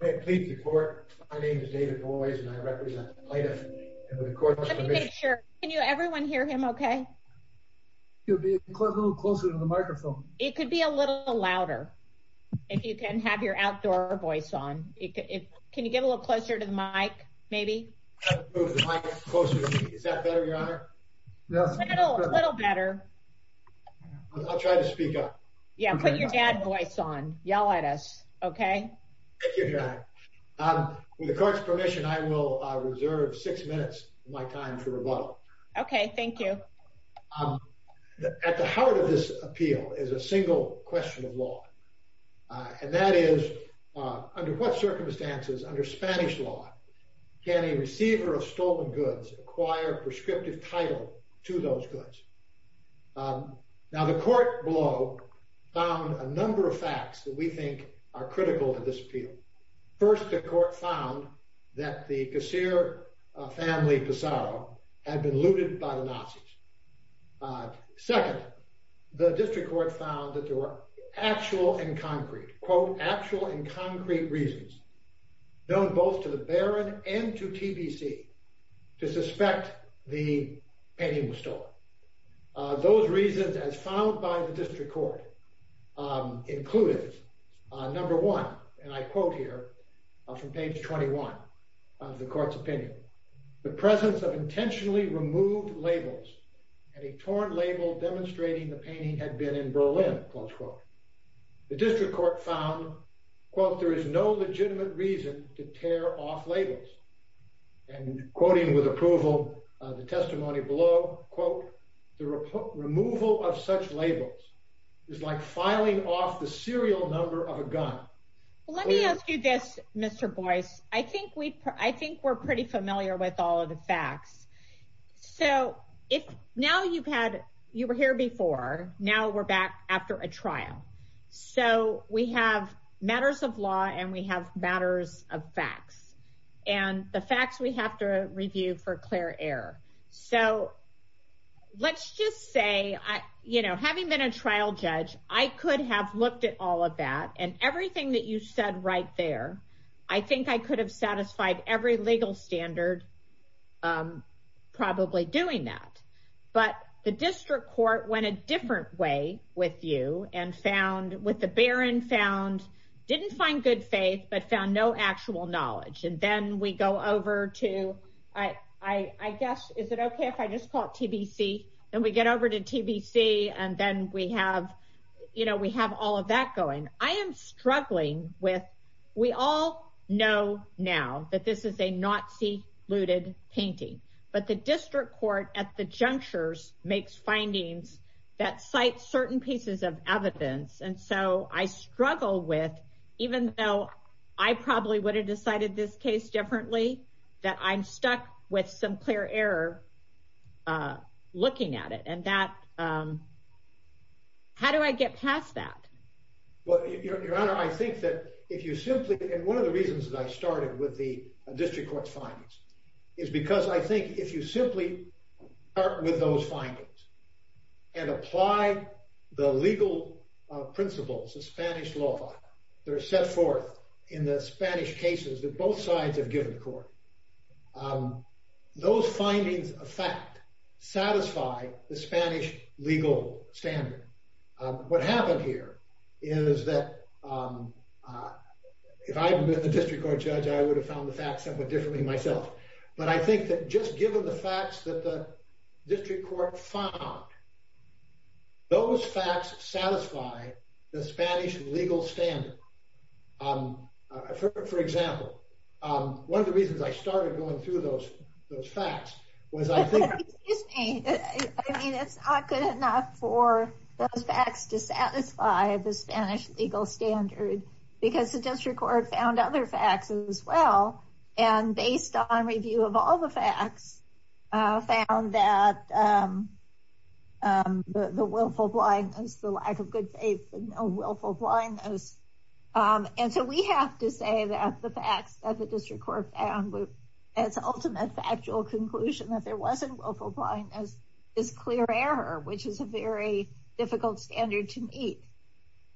David Boies Please before, my name is David Boies. And I represent The D.C. Department of Land and Land use. Can you make sure? Can you, everyone hear him okay? You'll be a little closer to the microphone. It could be a little louder. If you can have your outdoor voice on. Can you get a little closer to the mic? Maybe. Closer to the mic, is that better your Honor? Little, little better. I'll try to speak up. Yeah, put your dad voice on, yell at us. Okay? Thank you, Your Honor. With the court's permission, I will reserve six minutes of my time for rebuttal. Okay, thank you. At the heart of this appeal is a single question of law. And that is, under what circumstances, under Spanish law, can a receiver of stolen goods acquire prescriptive title to those goods? Now, the court below found a number of facts that we think are critical to this appeal. First, the court found that the Casir family, Pizarro, had been looted by the Nazis. Second, the district court found that there were actual and concrete, quote, actual and concrete reasons, known both to the Baron and to TBC, to suspect the painting was stolen. Those reasons, as found by the district court, included, number one, and I quote here from page 21 of the court's opinion, the presence of intentionally removed labels and a torn label demonstrating the painting had been in Berlin, close quote. The district court found, quote, there is no legitimate reason to tear off labels. And quoting with approval the testimony below, quote, the removal of such labels is like filing off the serial number of a gun. Let me ask you this, Mr. Boyce. I think we're pretty familiar with all of the facts. So now you were here before. Now we're back after a trial. So we have matters of law and we have matters of facts. And the facts we have to review for clear error. So let's just say, you know, having been a trial judge, I could have looked at all of that. And everything that you said right there, I think I could have satisfied every legal standard probably doing that. But the district court went a different way with you and found, with the Baron, found, didn't find good faith, but found no actual knowledge. And then we go over to, I guess, is it okay if I just call it TBC? Then we get over to TBC and then we have, you know, we have all of that going. I am struggling with, we all know now that this is a Nazi looted painting. But the district court at the junctures makes findings that cite certain pieces of evidence. And so I struggle with, even though I probably would have decided this case differently, that I'm stuck with some clear error looking at it. And that, how do I get past that? Well, Your Honor, I think that if you simply, and one of the reasons that I started with the district court's findings, is because I think if you simply start with those findings and apply the legal principles of Spanish law that are set forth in the Spanish cases that both sides have given the court, those findings of fact satisfy the Spanish legal standard. What happened here is that if I had been the district court judge, I would have found the facts somewhat differently myself. But I think that just given the facts that the district court found, those facts satisfy the Spanish legal standard. For example, one of the reasons I started going through those facts was I think. I mean, it's not good enough for those facts to satisfy the Spanish legal standard because the district court found other facts as well. And based on review of all the facts found that the willful blindness, the lack of good faith, willful blindness. And so we have to say that the facts that the district court found as the ultimate factual conclusion that there wasn't willful blindness is clear error, which is a very difficult standard to meet.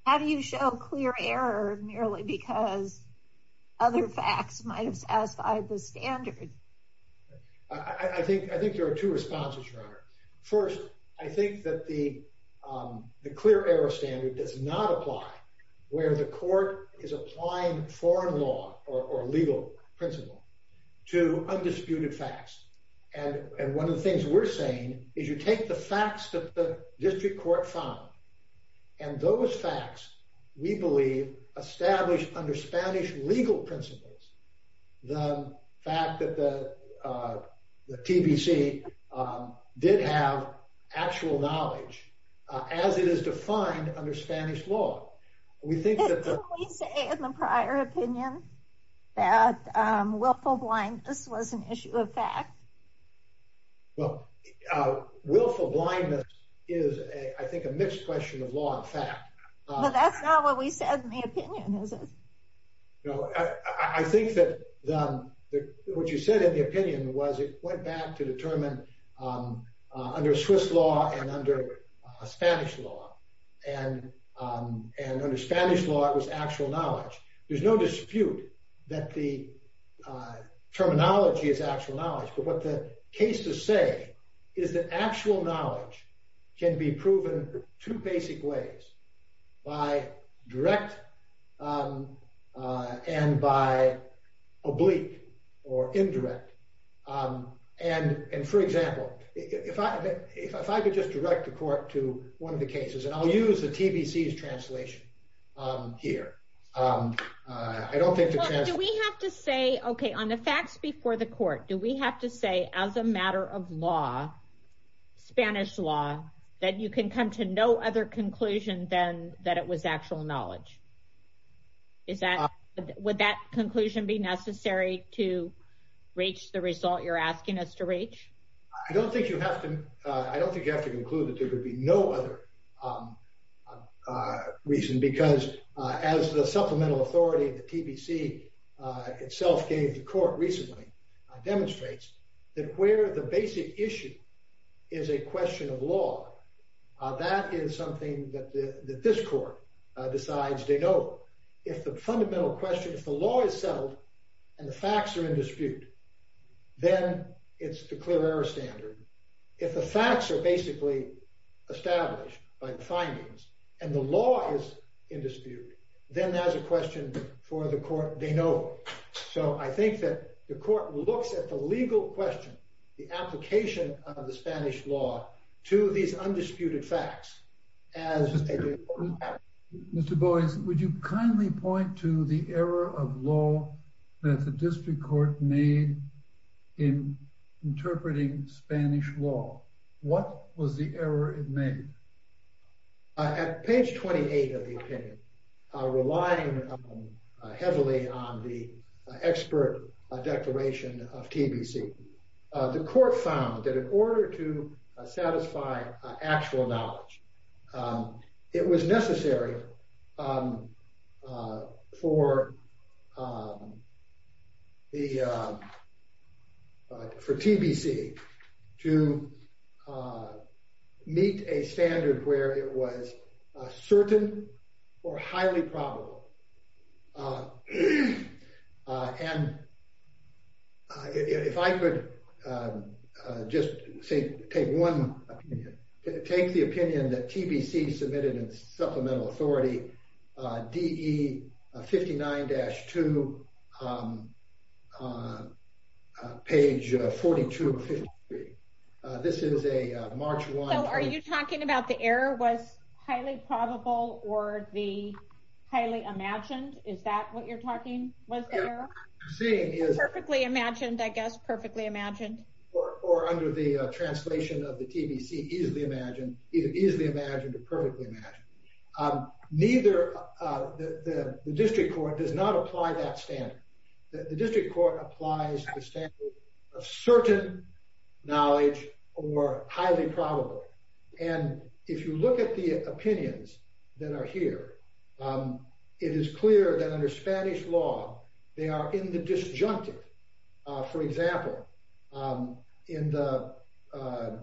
How do you show clear error merely because other facts might have satisfied the standard? First, I think that the clear error standard does not apply where the court is applying foreign law or legal principle to undisputed facts. And one of the things we're saying is you take the facts that the district court found. And those facts, we believe, establish under Spanish legal principles the fact that the TBC did have actual knowledge as it is defined under Spanish law. Can we say in the prior opinion that willful blindness was an issue of fact? Well, willful blindness is, I think, a mixed question of law and fact. But that's not what we said in the opinion, is it? No, I think that what you said in the opinion was it went back to determine under Swiss law and under Spanish law. And under Spanish law, it was actual knowledge. There's no dispute that the terminology is actual knowledge. But what the cases say is that actual knowledge can be proven two basic ways by direct and by oblique or indirect. And for example, if I could just direct the court to one of the cases, and I'll use the TBC's translation here. I don't think the translation— Do we have to say, okay, on the facts before the court, do we have to say as a matter of law, Spanish law, that you can come to no other conclusion than that it was actual knowledge? Would that conclusion be necessary to reach the result you're asking us to reach? I don't think you have to conclude that there could be no other reason. As the supplemental authority of the TBC itself gave the court recently demonstrates that where the basic issue is a question of law, that is something that this court decides they know. If the fundamental question, if the law is settled and the facts are in dispute, then it's the clear error standard. If the facts are basically established by the findings and the law is in dispute, then that's a question for the court, they know. So I think that the court looks at the legal question, the application of the Spanish law to these undisputed facts as a— Mr. Boies, would you kindly point to the error of law that the district court made in interpreting Spanish law? What was the error it made? At page 28 of the opinion, relying heavily on the expert declaration of TBC, the court found that in order to satisfy actual knowledge, it was necessary for TBC to meet a standard where it was certain or highly probable. And if I could just take the opinion that TBC submitted in supplemental authority, DE 59-2, page 42 of 53. This is a March 1— So are you talking about the error was highly probable or the highly imagined? Is that what you're talking? Was the error? Yeah, what I'm saying is— Perfectly imagined, I guess, perfectly imagined. Or under the translation of the TBC, easily imagined or perfectly imagined. Neither—the district court does not apply that standard. The district court applies the standard of certain knowledge or highly probable. And if you look at the opinions that are here, it is clear that under Spanish law, they are in the disjunctive. For example, in the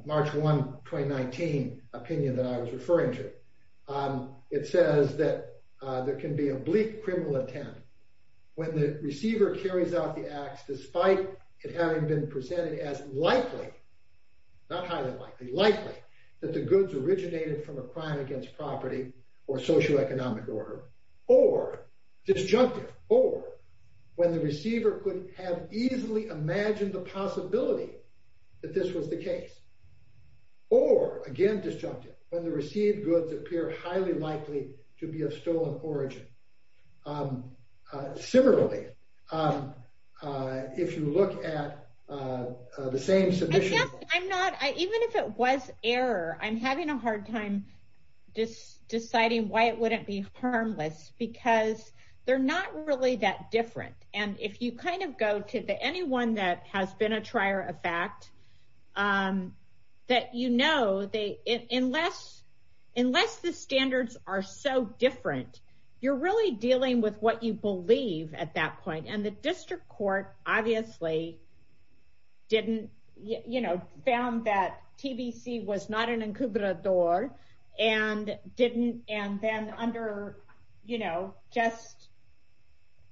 March 1, 2019 opinion that I was referring to, it says that there can be a bleak criminal attempt when the receiver carries out the acts despite it having been presented as likely, not highly likely, likely that the goods originated from a crime against property or socioeconomic order, or disjunctive, or when the receiver could have easily imagined the possibility that this was the case, or again disjunctive, when the received goods appear highly likely to be of stolen origin. Similarly, if you look at the same submission— Even if it was error, I'm having a hard time deciding why it wouldn't be harmless because they're not really that different. And if you kind of go to anyone that has been a trier of fact, that you know, unless the standards are so different, you're really dealing with what you believe at that point. And the district court obviously didn't, you know, found that TBC was not an encubrador and didn't, and then under, you know, just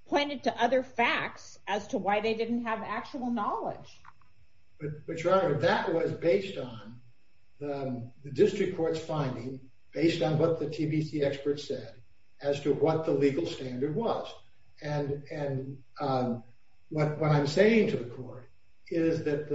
pointed to other facts as to why they didn't have actual knowledge. But your honor, that was based on the district court's finding based on what the TBC experts said as to what the legal standard was. And what I'm saying to the court is that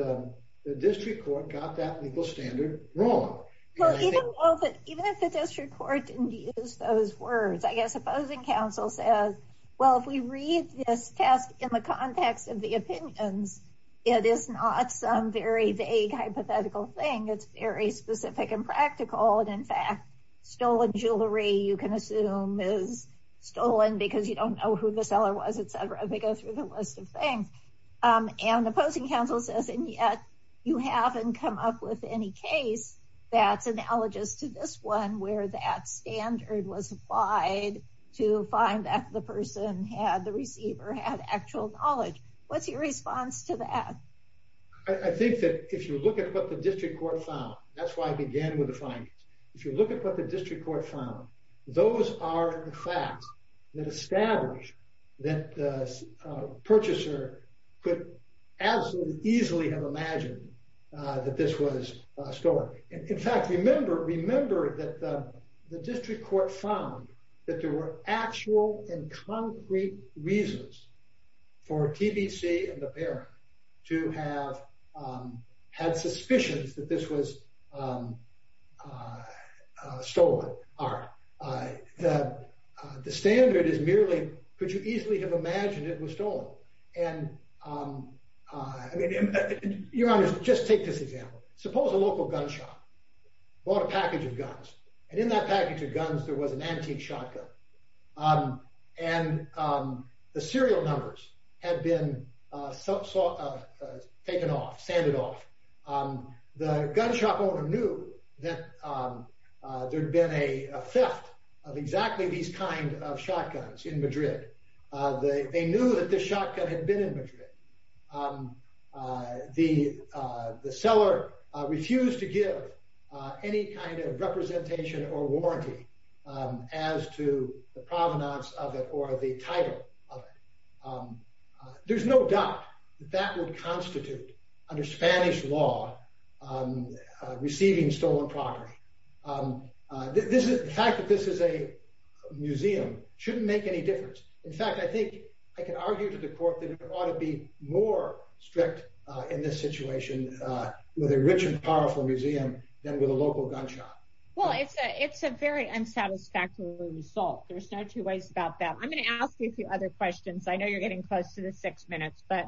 the district court got that legal standard wrong. Well, even if the district court didn't use those words, I guess opposing counsel says, well, if we read this test in the context of the opinions, it is not some very vague hypothetical thing. It's very specific and practical. And in fact, stolen jewelry, you can assume is stolen because you don't know who the seller was, etc. They go through the list of things. And opposing counsel says, and yet you haven't come up with any case that's analogous to this one where that standard was applied to find that the person had the receiver had actual knowledge. What's your response to that? I think that if you look at what the district court found, that's why I began with the findings. If you look at what the district court found, those are the facts that establish that the purchaser could absolutely easily have imagined that this was stolen. In fact, remember that the district court found that there were actual and concrete reasons for TBC and the parent to have had suspicions that this was stolen. The standard is merely could you easily have imagined it was stolen. Your Honor, just take this example. Suppose a local gun shop bought a package of guns. And in that package of guns, there was an antique shotgun. And the serial numbers had been taken off, sanded off. The gun shop owner knew that there'd been a theft of exactly these kind of shotguns in Madrid. They knew that the shotgun had been in Madrid. The seller refused to give any kind of representation or warranty as to the provenance of it or the title of it. There's no doubt that that would constitute, under Spanish law, receiving stolen property. The fact that this is a museum shouldn't make any difference. In fact, I think I can argue to the court that it ought to be more strict in this situation with a rich and powerful museum than with a local gun shop. Well, it's a very unsatisfactory result. There's no two ways about that. I'm going to ask you a few other questions. I know you're getting close to the six minutes, but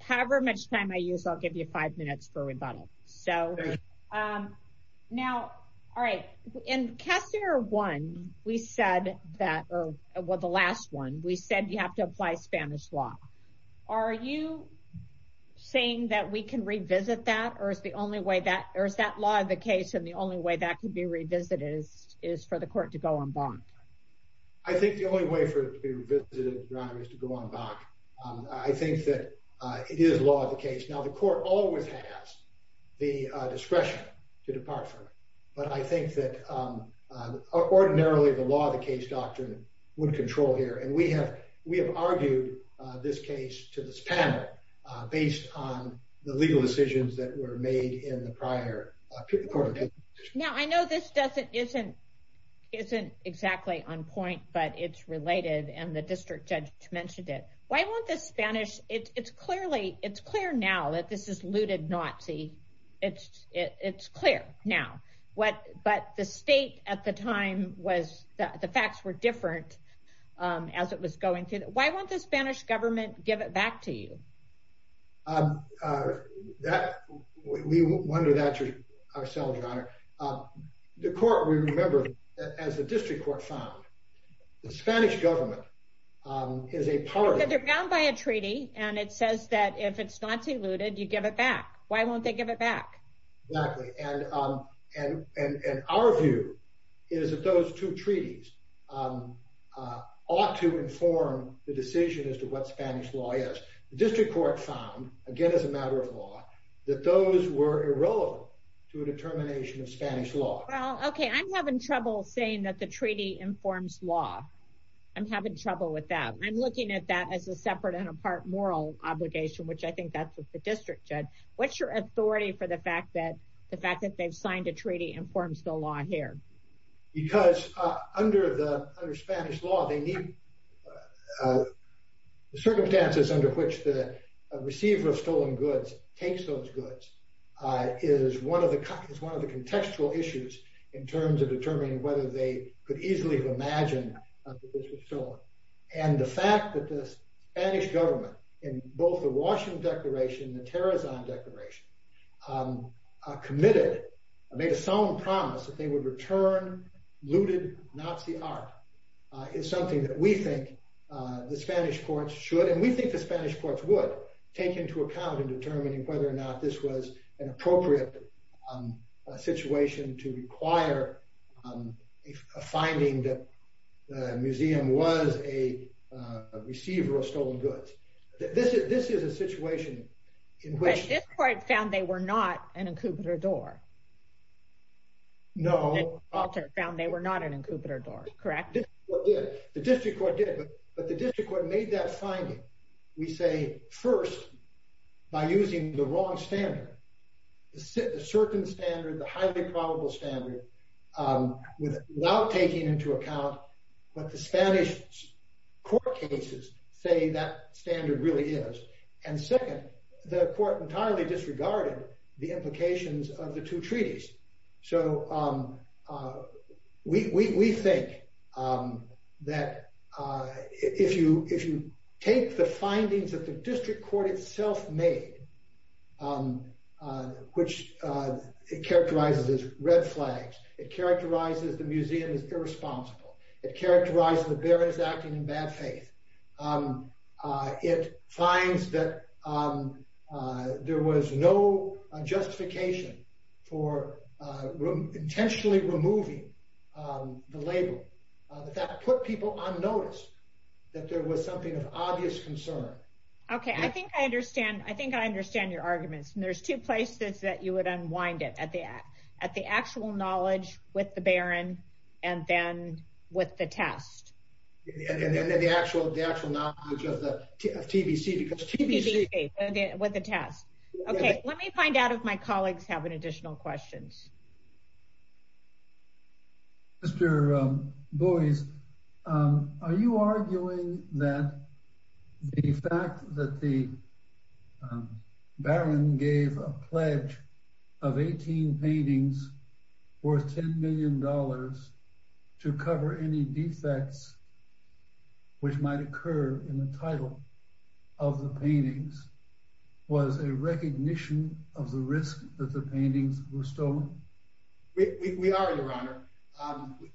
however much time I use, I'll give you five minutes for rebuttal. So now, all right. In case number one, we said that, or the last one, we said you have to apply Spanish law. Are you saying that we can revisit that? Or is that law of the case and the only way that can be revisited is for the court to go en banc? I think the only way for it to be revisited is to go en banc. I think that it is law of the case. Now, the court always has the discretion to depart from it. But I think that ordinarily, the law of the case doctrine would control here. And we have argued this case to this panel based on the legal decisions that were made in the prior court of appeals. Now, I know this isn't exactly on point, but it's related. And the district judge mentioned it. It's clear now that this is looted Nazi. It's clear now. But the facts were different as it was going through. Why won't the Spanish government give it back to you? We wonder that ourselves, Your Honor. The court, we remember, as the district court found, the Spanish government is a party. They're bound by a treaty. And it says that if it's Nazi looted, you give it back. Why won't they give it back? Exactly. And our view is that those two treaties ought to inform the decision as to what Spanish law is. The district court found, again, as a matter of law, that those were irrelevant to a determination of Spanish law. Well, OK, I'm having trouble saying that the treaty informs law. I'm having trouble with that. I'm looking at that as a separate and a part moral obligation, which I think that's what the district judge. What's your authority for the fact that the fact that they've signed a treaty informs the law here? Because under Spanish law, the circumstances under which the receiver of stolen goods takes those goods is one of the contextual issues in terms of determining whether they could easily imagine that this was stolen. And the fact that the Spanish government, in both the Washington Declaration and the Terrazon Declaration, committed, made a solemn promise that they would return looted Nazi art is something that we think the Spanish courts should, and we think the Spanish courts would, take into account in determining whether or not this was an appropriate situation to require a finding that the museum was, a receiver of stolen goods. This is a situation in which- But this court found they were not an incubator door. No. Walter found they were not an incubator door, correct? The district court did, but the district court made that finding, we say, first, by using the wrong standard. The certain standard, the highly probable standard, without taking into account what the Spanish court cases say that standard really is. And second, the court entirely disregarded the implications of the two treaties. So, we think that if you take the findings that the district court itself made, which it characterizes as red flags, it characterizes the museum as irresponsible, it characterizes the bearers acting in bad faith, it finds that there was no justification for intentionally removing the label. That put people on notice that there was something of obvious concern. Okay, I think I understand. I think I understand your arguments. And there's two places that you would unwind it, at the actual knowledge with the baron, and then with the test. And then the actual knowledge of TBC, because TBC- TBC, with the test. Okay, let me find out if my colleagues have any additional questions. Mr. Boies, are you arguing that the fact that the baron gave a pledge of 18 paintings worth $10 million to cover any defects, which might occur in the title of the paintings, was a recognition of the risk that the paintings were stolen? We are, your honor.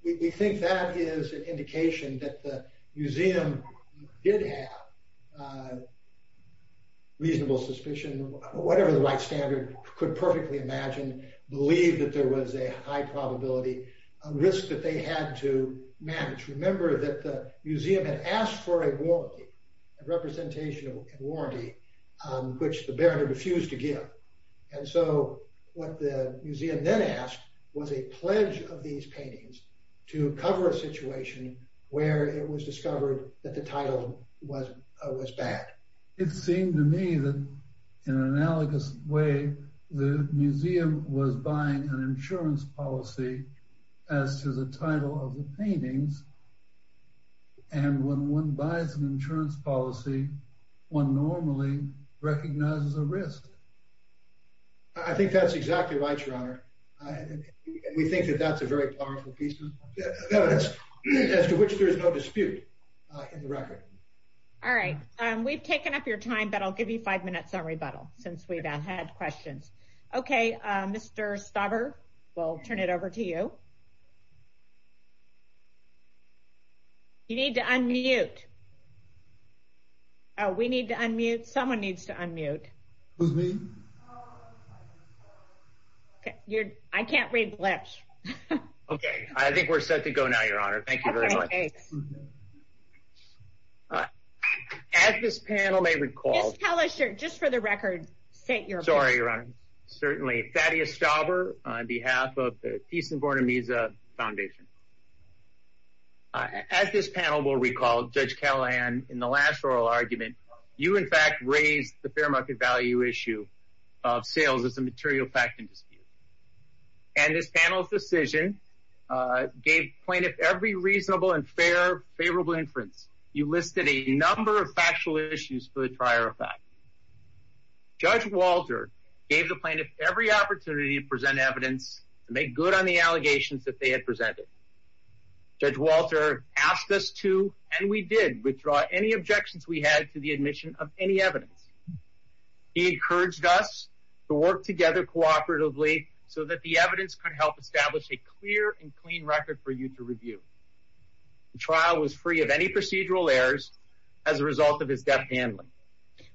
We think that is an indication that the museum did have reasonable suspicion, whatever the right standard could perfectly imagine, believe that there was a high probability, a risk that they had to manage. Remember that the museum had asked for a warranty, a representation of warranty, which the baron refused to give. And so what the museum then asked was a pledge of these paintings to cover a situation where it was discovered that the title was bad. It seemed to me that, in an analogous way, the museum was buying an insurance policy as to the title of the paintings. And when one buys an insurance policy, one normally recognizes a risk. I think that's exactly right, your honor. We think that that's a very powerful piece of evidence, as to which there is no dispute in the record. All right. We've taken up your time, but I'll give you five minutes on rebuttal, since we've had questions. Okay, Mr. Stauber, we'll turn it over to you. You need to unmute. We need to unmute. Someone needs to unmute. I can't read lips. Okay, I think we're set to go now, your honor. Thank you very much. As this panel may recall... Just tell us your... Just for the record, state your opinion. Sorry, your honor. Certainly. Thaddeus Stauber, on behalf of the Thyssen-Bornemisza Foundation. As this panel will recall, Judge Callahan, in the last oral argument, you, in fact, raised the fair market value issue of sales as a material fact and dispute. And this panel's decision gave plaintiff every reasonable and fair, favorable inference. You listed a number of factual issues for the prior fact. Judge Walter gave the plaintiff every opportunity to present evidence to make good on the allegations that they had presented. Judge Walter asked us to, and we did, withdraw any objections we had to the admission of any evidence. He encouraged us to work together cooperatively so that the evidence could help establish a clear and clean record for you to review. The trial was free of any procedural errors as a result of his deft handling.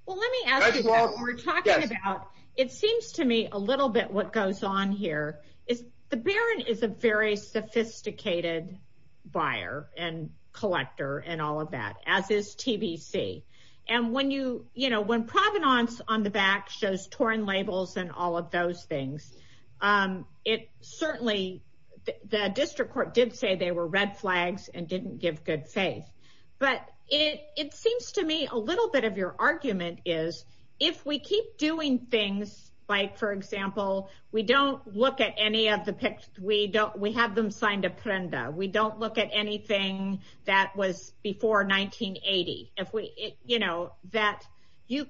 Well, let me ask you, while we're talking about... It seems to me a little bit what goes on here is the baron is a very sophisticated buyer and collector and all of that, as is TBC. And when provenance on the back shows torn labels and all of those things, it certainly... The district court did say they were red flags and didn't give good faith. But it seems to me a little bit of your argument is, if we keep doing things like, for example, we don't look at any of the... We have them signed a prenda. We don't look at anything that was before 1980. That you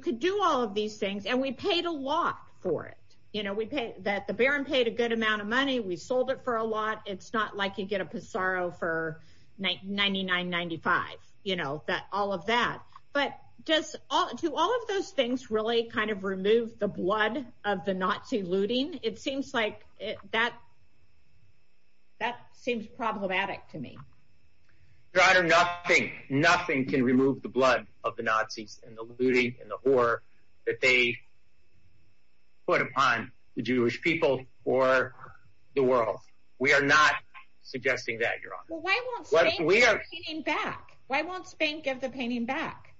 could do all of these things, and we paid a lot for it. The baron paid a good amount of money. We sold it for a lot. It's not like you get a Pissarro for $99.95, all of that. But do all of those things really kind of remove the blood of the Nazi looting? It seems problematic to me. Your Honor, nothing can remove the blood of the Nazis and the looting and the horror that they put upon the Jewish people or the world. We are not suggesting that, Your Honor. Why won't Spain give the painting back?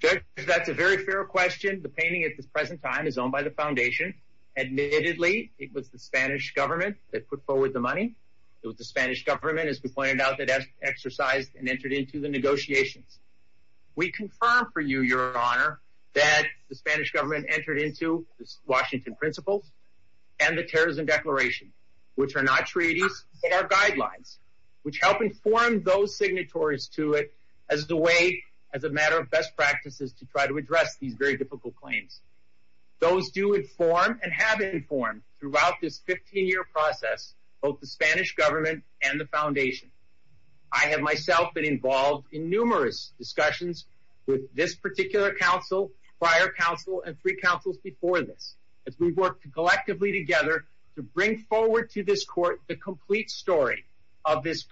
Judge, that's a very fair question. The painting at this present time is owned by the Foundation. Admittedly, it was the Spanish government that put forward the money. It was the Spanish government, as we pointed out, that exercised and entered into the negotiations. We confirm for you, Your Honor, that the Spanish government entered into the Washington Principles and the Terrorism Declaration, which are not treaties, but are guidelines, which help inform those signatories to it as a way, as a matter of best practices, to try to address these very difficult claims. Those do inform and have informed, throughout this 15-year process, both the Spanish government and the Foundation. I have myself been involved in numerous discussions with this particular counsel, prior counsel, and three counsels before this, as we worked collectively together to bring forward to this Court the complete story of this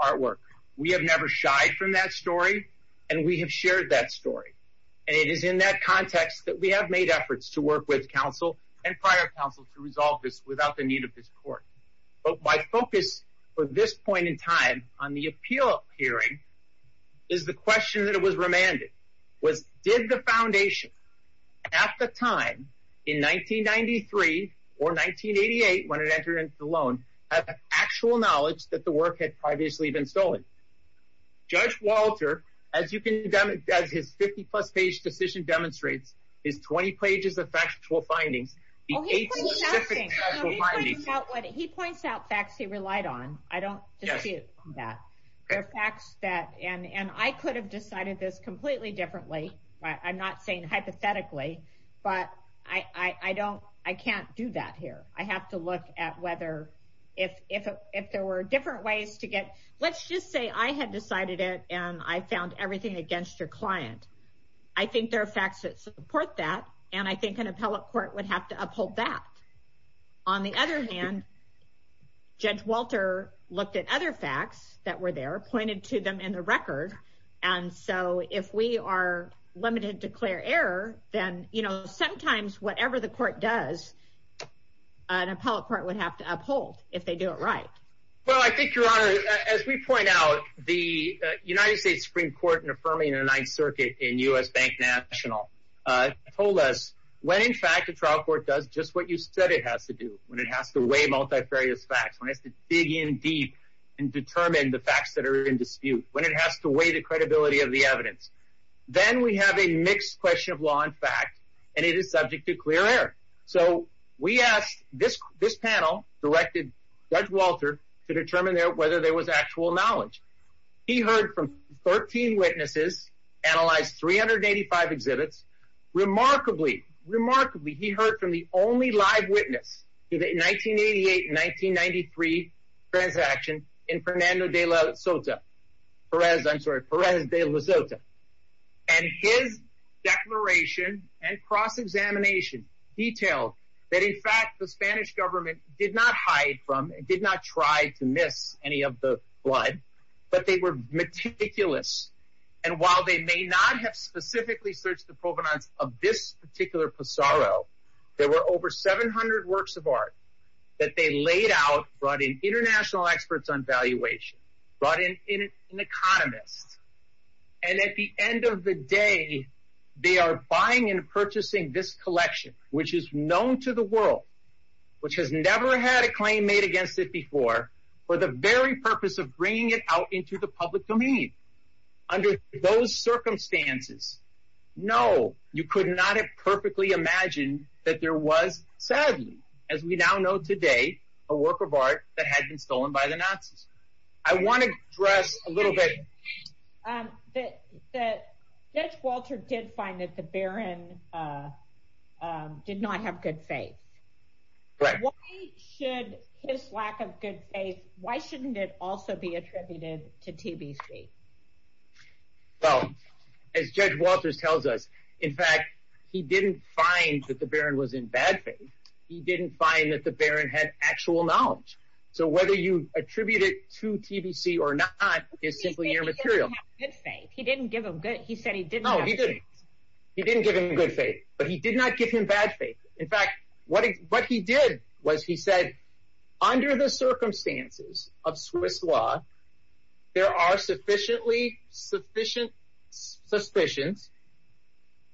artwork. We have never shied from that story, and we have shared that story. It is in that context that we have made efforts to work with counsel and prior counsel to resolve this without the need of this Court. My focus for this point in time on the appeal hearing is the question that was remanded. Did the Foundation, at the time, in 1993 or 1988, when it entered into the loan, have actual knowledge that the work had previously been stolen? Judge Walter, as his 50-plus page decision demonstrates, his 20 pages of factual findings, the eight specific factual findings… He points out facts he relied on. I don't dispute that. There are facts that, and I could have decided this completely differently, I'm not saying hypothetically, but I can't do that here. I have to look at whether, if there were different ways to get… Let's just say I had decided it, and I found everything against your client. I think there are facts that support that, and I think an appellate court would have to uphold that. On the other hand, Judge Walter looked at other facts that were there, pointed to them in the record, and so if we are limited to clear error, then sometimes whatever the court does, an appellate court would have to uphold if they do it right. Well, I think, Your Honor, as we point out, the United States Supreme Court, in affirming the Ninth Circuit in U.S. Bank National, told us when, in fact, a trial court does just what you said it has to do, when it has to weigh multifarious facts, when it has to dig in deep and determine the facts that are in dispute, when it has to weigh the credibility of the evidence. Then we have a mixed question of law and fact, and it is subject to clear error. So, we asked, this panel directed Judge Walter to determine whether there was actual knowledge. He heard from 13 witnesses, analyzed 385 exhibits. Remarkably, he heard from the only live witness in the 1988-1993 transaction in Perez de la Sota. And his declaration and cross-examination detailed that, in fact, the Spanish government did not hide from, did not try to miss any of the flood, but they were meticulous. And while they may not have specifically searched the provenance of this particular passaro, there were over 700 works of art that they laid out, brought in international experts on valuation, brought in an economist. And at the end of the day, they are buying and purchasing this collection, which is known to the world, which has never had a claim made against it before, for the very purpose of bringing it out into the public domain. Under those circumstances, no, you could not have perfectly imagined that there was, sadly, as we now know today, a work of art that had been stolen by the Nazis. I want to address a little bit... Judge Walter did find that the Baron did not have good faith. Why should his lack of good faith, why shouldn't it also be attributed to TBC? Well, as Judge Walters tells us, in fact, he didn't find that the Baron was in bad faith. He didn't find that the Baron had actual knowledge. So whether you attribute it to TBC or not is simply your material. He said he didn't have good faith. He said he didn't have good faith. No, he didn't. He didn't give him good faith, but he did not give him bad faith. In fact, what he did was he said, under the circumstances of Swiss law, there are sufficient suspicions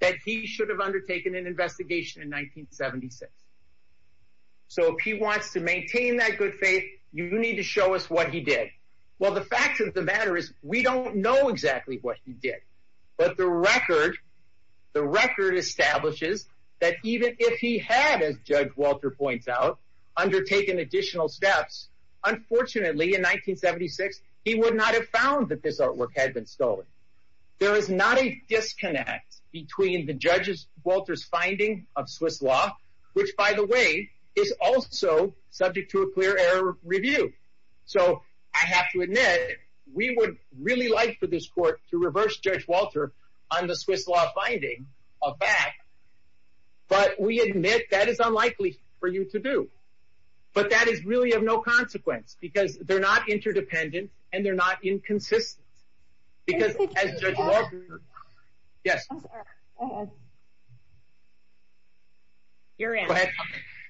that he should have undertaken an investigation in 1976. So if he wants to maintain that good faith, you need to show us what he did. Well, the fact of the matter is we don't know exactly what he did. But the record, the record establishes that even if he had, as Judge Walter points out, undertaken additional steps, unfortunately, in 1976, he would not have found that this artwork had been stolen. There is not a disconnect between the judges, Walters finding of Swiss law, which, by the way, is also subject to a clear error review. So I have to admit, we would really like for this court to reverse Judge Walter on the Swiss law finding of that. But we admit that is unlikely for you to do. But that is really of no consequence because they're not interdependent and they're not inconsistent. Because as Judge Walter... Yes. Go ahead.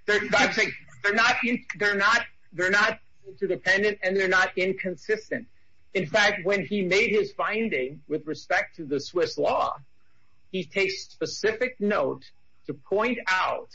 They're not interdependent and they're not inconsistent. In fact, when he made his finding with respect to the Swiss law, he takes specific note to point out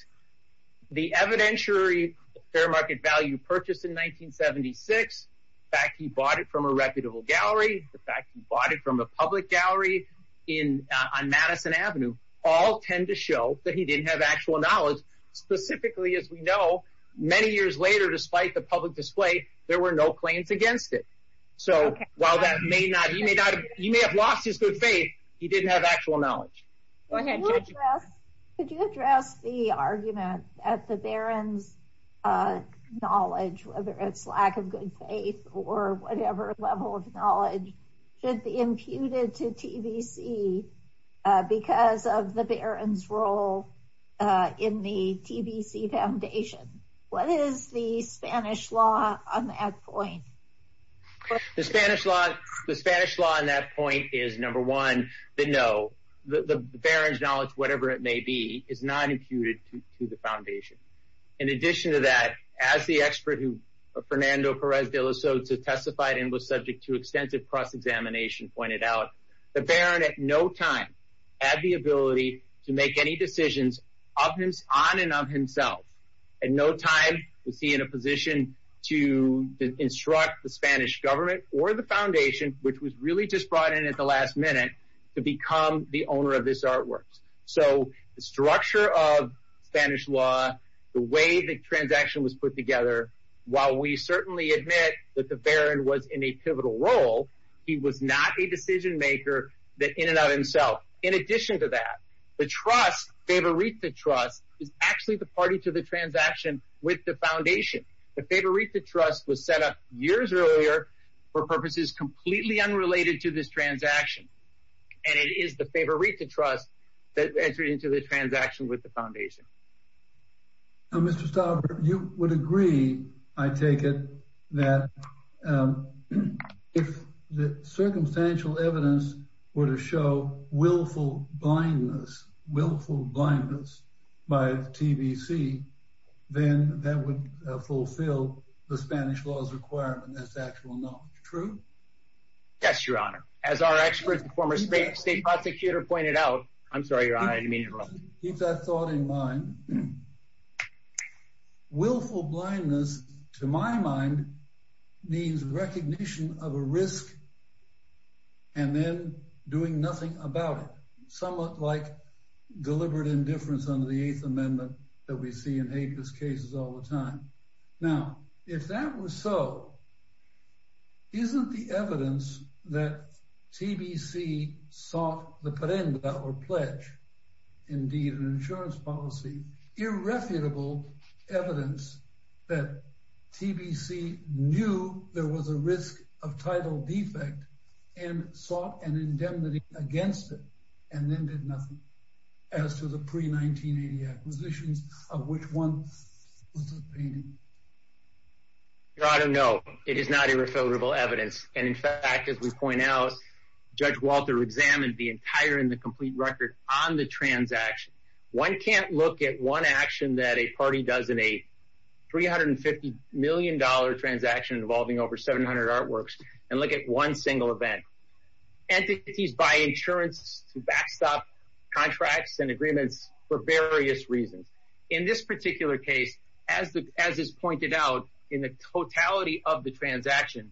the evidentiary fair market value purchased in 1976, the fact he bought it from a reputable gallery, the fact he bought it from a public gallery on Madison Avenue, all tend to show that he didn't have actual knowledge. Specifically, as we know, many years later, despite the public display, there were no claims against it. So while you may have lost his good faith, he didn't have actual knowledge. Could you address the argument at the Baron's knowledge, whether it's lack of good faith or whatever level of knowledge should be imputed to TBC because of the Baron's role in the TBC Foundation? What is the Spanish law on that point? The Spanish law on that point is, number one, that no, the Baron's knowledge, whatever it may be, is not imputed to the Foundation. In addition to that, as the expert who, Fernando Perez de la Sota testified and was subject to extensive cross-examination pointed out, the Baron at no time had the ability to make any decisions on and of himself. At no time was he in a position to instruct the Spanish government or the Foundation, which was really just brought in at the last minute, to become the owner of this artwork. So the structure of Spanish law, the way the transaction was put together, while we certainly admit that the Baron was in a pivotal role, he was not a decision maker in and of himself. In addition to that, the trust, Favorita Trust, is actually the party to the transaction with the Foundation. The Favorita Trust was set up years earlier for purposes completely unrelated to this transaction. And it is the Favorita Trust that entered into the transaction with the Foundation. Now, Mr. Stauber, you would agree, I take it, that if the circumstantial evidence were to show willful blindness, willful blindness by TBC, then that would fulfill the Spanish law's requirement as to actual knowledge. True? Yes, Your Honor. As our expert, the former State Prosecutor, pointed out, I'm sorry, Your Honor, I didn't mean it wrong. Keep that thought in mind. Willful blindness, to my mind, means recognition of a risk and then doing nothing about it. Somewhat like deliberate indifference under the Eighth Amendment that we see in Hague's cases all the time. Now, if that was so, isn't the evidence that TBC sought the Prenda, or pledge, indeed an insurance policy, irrefutable evidence that TBC knew there was a risk of title defect and sought an indemnity against it and then did nothing? As to the pre-1980 acquisitions of which one was the painting? Your Honor, no, it is not irrefutable evidence. And in fact, as we point out, Judge Walter examined the entire and the complete record on the transaction. One can't look at one action that a party does in a $350 million transaction involving over 700 artworks and look at one single event. Entities buy insurance to backstop contracts and agreements for various reasons. In this particular case, as is pointed out, in the totality of the transaction,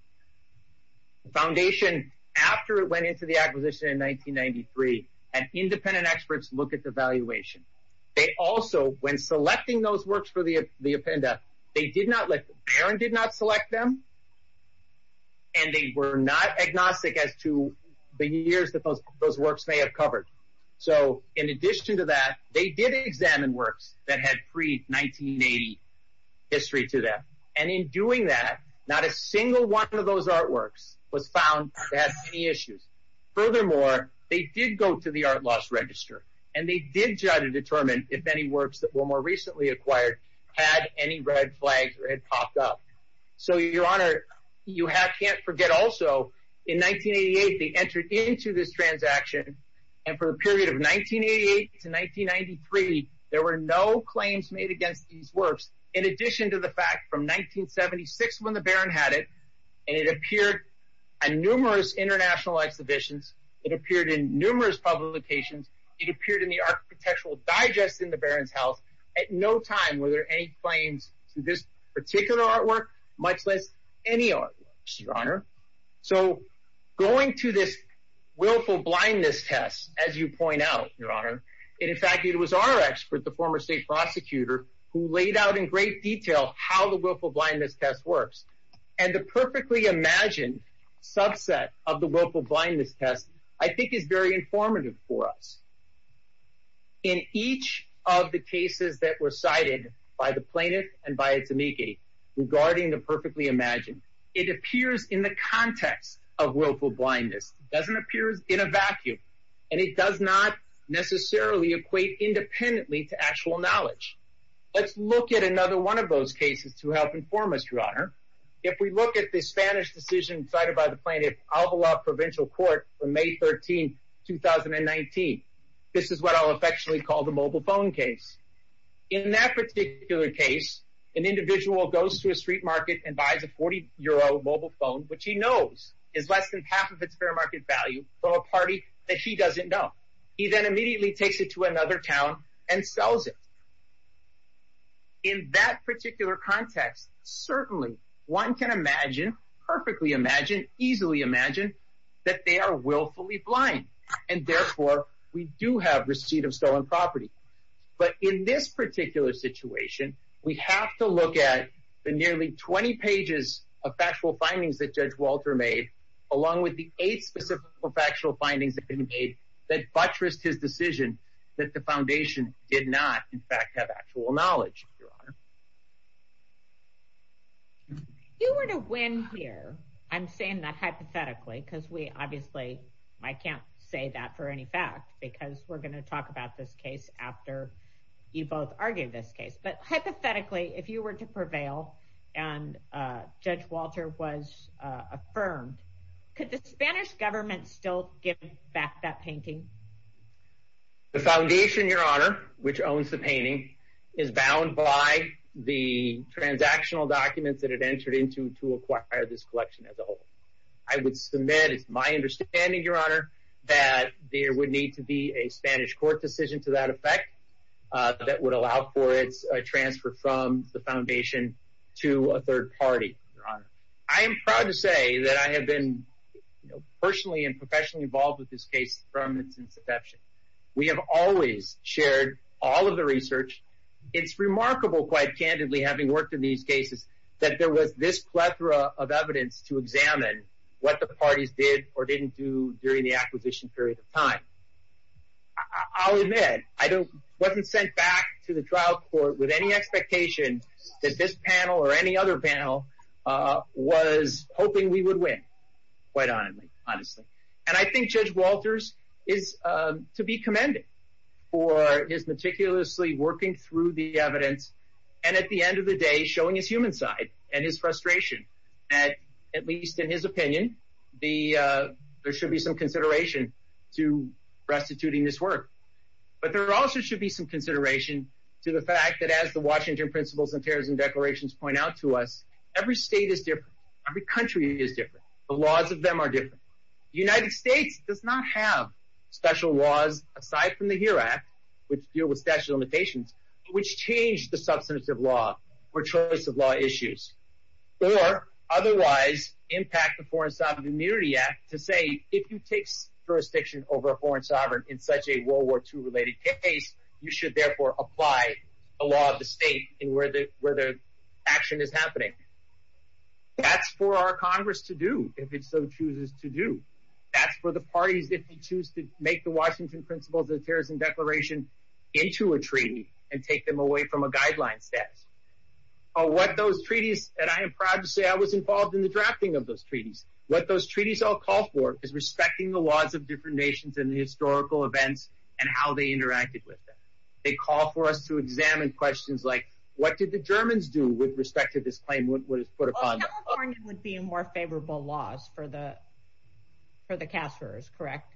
the Foundation, after it went into the acquisition in 1993, had independent experts look at the valuation. They also, when selecting those works for the Appenda, they did not let the Baron select them, and they were not agnostic as to the years that those works may have covered. So, in addition to that, they did examine works that had pre-1980 history to them, and in doing that, not a single one of those artworks was found to have any issues. Furthermore, they did go to the Art Loss Register, and they did try to determine if any works that were more recently acquired had any red flags or had popped up. So, Your Honor, you can't forget also, in 1988, they entered into this transaction, and for a period of 1988 to 1993, there were no claims made against these works. In addition to the fact, from 1976, when the Baron had it, and it appeared in numerous international exhibitions, it appeared in numerous publications, it appeared in the Architectural Digest in the Baron's House. At no time were there any claims to this particular artwork, much less any artworks, Your Honor. So, going to this Willful Blindness Test, as you point out, Your Honor, and in fact, it was our expert, the former state prosecutor, who laid out in great detail how the Willful Blindness Test works. And the perfectly imagined subset of the Willful Blindness Test, I think, is very informative for us. In each of the cases that were cited by the plaintiff and by its amici regarding the perfectly imagined, it appears in the context of willful blindness. It doesn't appear in a vacuum, and it does not necessarily equate independently to actual knowledge. Let's look at another one of those cases to help inform us, Your Honor. If we look at the Spanish decision cited by the plaintiff, Alvalo Provincial Court, from May 13, 2019, this is what I'll affectionately call the mobile phone case. In that particular case, an individual goes to a street market and buys a 40-euro mobile phone, which he knows is less than half of its fair market value, from a party that he doesn't know. He then immediately takes it to another town and sells it. In that particular context, certainly one can imagine, perfectly imagine, easily imagine, that they are willfully blind. And therefore, we do have receipt of stolen property. But in this particular situation, we have to look at the nearly 20 pages of factual findings that Judge Walter made, along with the eight specific factual findings that he made that buttressed his decision that the foundation did not. In fact, have actual knowledge, Your Honor. If you were to win here, I'm saying that hypothetically, because we obviously, I can't say that for any fact, because we're going to talk about this case after you both argue this case. But hypothetically, if you were to prevail and Judge Walter was affirmed, could the Spanish government still give back that painting? The foundation, Your Honor, which owns the painting, is bound by the transactional documents that it entered into to acquire this collection as a whole. I would submit, it's my understanding, Your Honor, that there would need to be a Spanish court decision to that effect that would allow for its transfer from the foundation to a third party, Your Honor. I am proud to say that I have been personally and professionally involved with this case from its inception. We have always shared all of the research. It's remarkable, quite candidly, having worked in these cases, that there was this plethora of evidence to examine what the parties did or didn't do during the acquisition period of time. I'll admit, I wasn't sent back to the trial court with any expectation that this panel or any other panel was hoping we would win, quite honestly. And I think Judge Walters is to be commended for his meticulously working through the evidence and at the end of the day showing his human side and his frustration. At least in his opinion, there should be some consideration to restituting this work. But there also should be some consideration to the fact that as the Washington Principles and Terrorism Declarations point out to us, every state is different. Every country is different. The laws of them are different. The United States does not have special laws, aside from the HERE Act, which deal with statute of limitations, which change the substantive law or choice of law issues. Or, otherwise, impact the Foreign Sovereign Immunity Act to say, if you take jurisdiction over a foreign sovereign in such a World War II related case, you should therefore apply the law of the state in where the action is happening. That's for our Congress to do, if it so chooses to do. That's for the parties, if they choose to make the Washington Principles and Terrorism Declaration into a treaty and take them away from a guideline status. What those treaties, and I am proud to say I was involved in the drafting of those treaties. What those treaties all call for is respecting the laws of different nations and the historical events and how they interacted with them. They call for us to examine questions like, what did the Germans do with respect to this claim? California would be more favorable laws for the cashers, correct?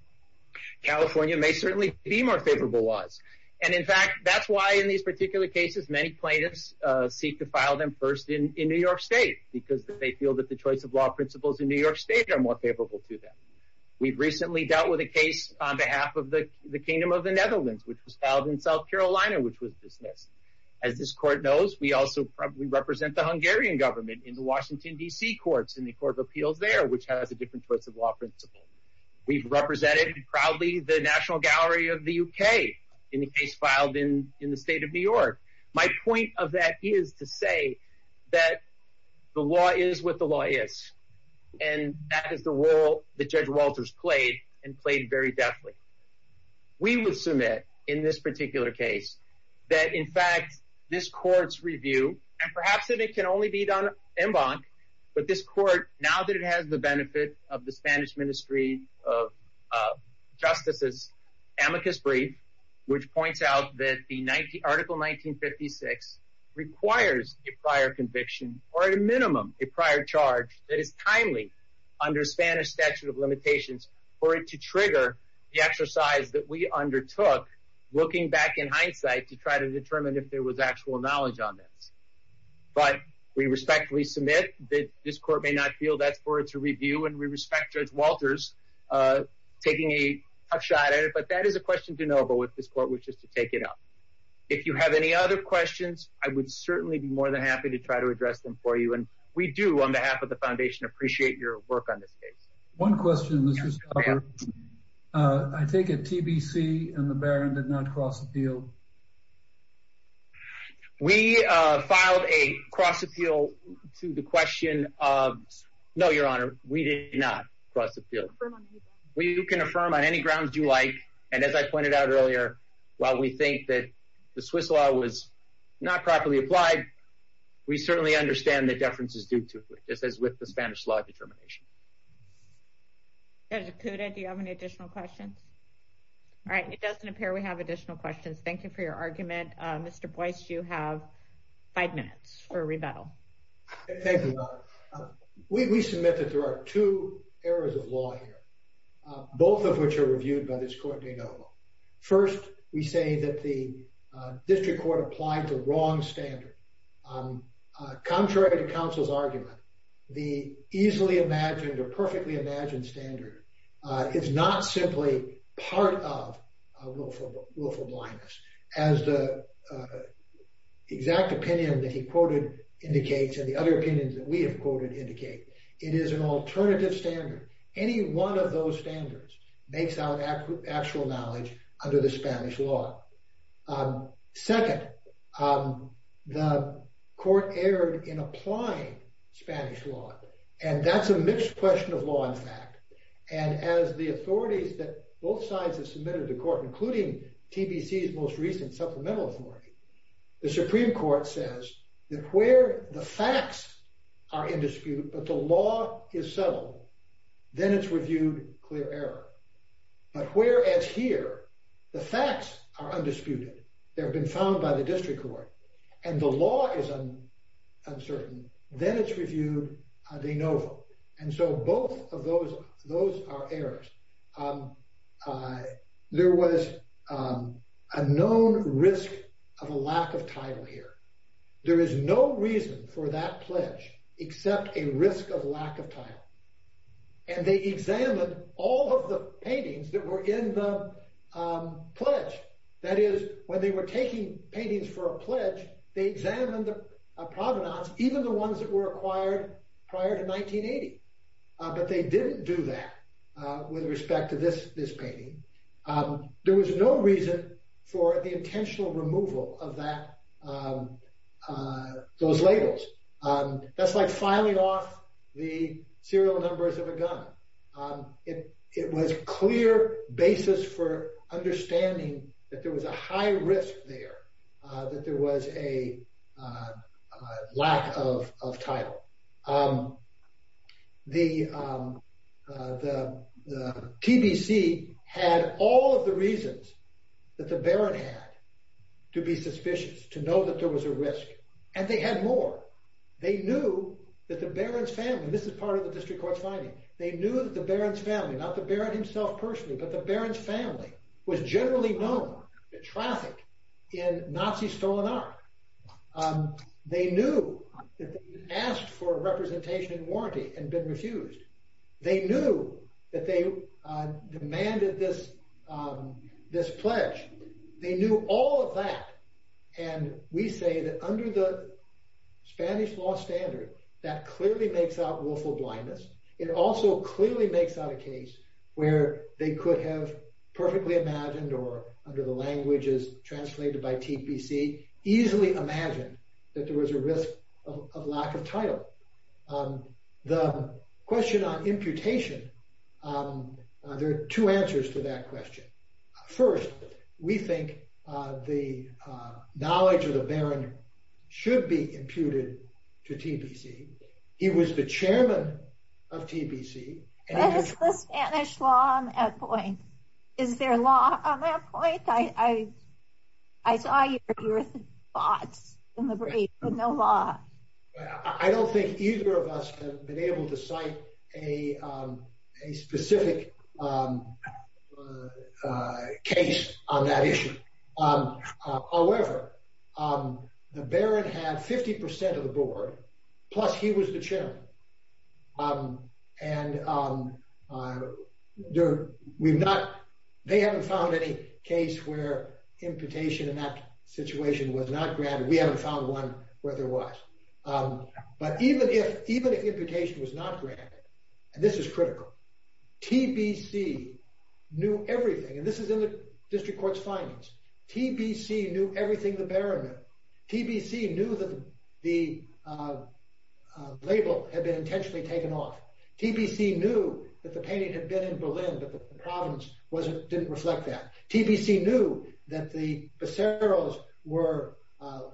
California may certainly be more favorable laws. And, in fact, that's why in these particular cases, many plaintiffs seek to file them first in New York State, because they feel that the choice of law principles in New York State are more favorable to them. We've recently dealt with a case on behalf of the Kingdom of the Netherlands, which was filed in South Carolina, which was dismissed. As this Court knows, we also represent the Hungarian government in the Washington, D.C. Courts and the Court of Appeals there, which has a different choice of law principle. We've represented proudly the National Gallery of the U.K. in the case filed in the State of New York. My point of that is to say that the law is what the law is, and that is the role that Judge Walters played, and played very deftly. We would submit in this particular case that, in fact, this Court's review, and perhaps it can only be done en banc, but this Court, now that it has the benefit of the Spanish Ministry of Justice's amicus brief, which points out that Article 1956 requires a prior conviction, or at a minimum, a prior charge that is timely under Spanish statute of limitations for it to trigger the exercise that we undertook looking back in hindsight to try to determine if there was actual knowledge on this. But we respectfully submit that this Court may not feel that's for it to review, and we respect Judge Walters taking a tough shot at it, but that is a question de novo with this Court, which is to take it up. If you have any other questions, I would certainly be more than happy to try to address them for you, and we do, on behalf of the Foundation, appreciate your work on this case. One question, Mr. Stauffer. I take it TBC and the Baron did not cross a deal? We filed a cross appeal to the question of, no, Your Honor, we did not cross a deal. You can affirm on any grounds you like, and as I pointed out earlier, while we think that the Swiss law was not properly applied, we certainly understand that deference is due to it, just as with the Spanish law determination. Judge Acuda, do you have any additional questions? All right, it doesn't appear we have additional questions. Thank you for your argument. Mr. Boyce, you have five minutes for rebuttal. Thank you, Your Honor. We submit that there are two areas of law here, both of which are reviewed by this Court de novo. First, we say that the district court applied the wrong standard. Contrary to counsel's argument, the easily imagined or perfectly imagined standard is not simply part of willful blindness, as the exact opinion that he quoted indicates and the other opinions that we have quoted indicate. It is an alternative standard. Any one of those standards makes out actual knowledge under the Spanish law. Second, the Court erred in applying Spanish law, and that's a mixed question of law and fact. And as the authorities that both sides have submitted to court, including TBC's most recent supplemental authority, the Supreme Court says that where the facts are in dispute, but the law is subtle, then it's reviewed clear error. But whereas here, the facts are undisputed. They have been found by the district court, and the law is uncertain, then it's reviewed de novo. And so both of those are errors. There was a known risk of a lack of title here. There is no reason for that pledge except a risk of lack of title. And they examined all of the paintings that were in the pledge. That is, when they were taking paintings for a pledge, they examined the provenance, even the ones that were acquired prior to 1980. But they didn't do that with respect to this painting. There was no reason for the intentional removal of those labels. That's like filing off the serial numbers of a gun. It was clear basis for understanding that there was a high risk there, that there was a lack of title. The TBC had all of the reasons that the baron had to be suspicious, to know that there was a risk. And they had more. They knew that the baron's family, this is part of the district court's finding, they knew that the baron's family, not the baron himself personally, but the baron's family, was generally known to traffic in Nazi-stolen art. They knew that they had been asked for a representation and warranty and been refused. They knew that they demanded this pledge. They knew all of that. And we say that under the Spanish law standard, that clearly makes out willful blindness. It also clearly makes out a case where they could have perfectly imagined or, under the languages translated by TBC, easily imagined that there was a risk of lack of title. The question on imputation, there are two answers to that question. First, we think the knowledge of the baron should be imputed to TBC. He was the chairman of TBC. What is the Spanish law on that point? Is there law on that point? I saw your thoughts in the brief, but no law. I don't think either of us have been able to cite a specific case on that issue. However, the baron had 50% of the board, plus he was the chairman. They haven't found any case where imputation in that situation was not granted. We haven't found one where there was. But even if imputation was not granted, and this is critical, TBC knew everything. And this is in the district court's findings. TBC knew everything the baron knew. TBC knew that the label had been intentionally taken off. TBC knew that the painting had been in Berlin, but the province didn't reflect that. TBC knew that the Becerros were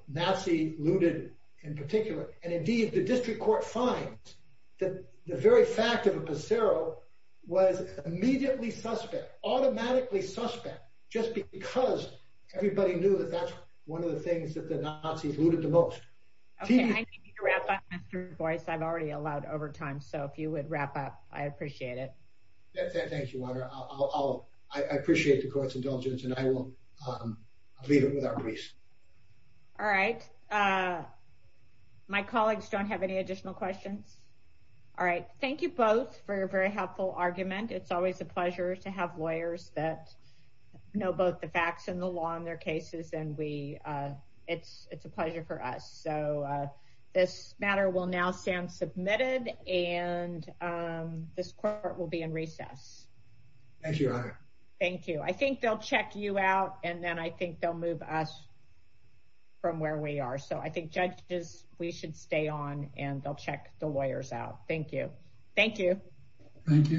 Nazi looted in particular. And indeed, the district court finds that the very fact of a Becerro was immediately suspect, automatically suspect, just because everybody knew that that's one of the things that the Nazis looted the most. Okay, I need you to wrap up, Mr. Boyce. I've already allowed overtime. So if you would wrap up, I appreciate it. Thank you, Walter. I appreciate the court's indulgence, and I will leave it with our police. All right. My colleagues don't have any additional questions. All right. Thank you both for your very helpful argument. It's always a pleasure to have lawyers that know both the facts and the law in their cases, and it's a pleasure for us. So this matter will now stand submitted, and this court will be in recess. Thank you. I think they'll check you out, and then I think they'll move us from where we are. So I think judges, we should stay on, and they'll check the lawyers out. Thank you. Thank you. Thank you.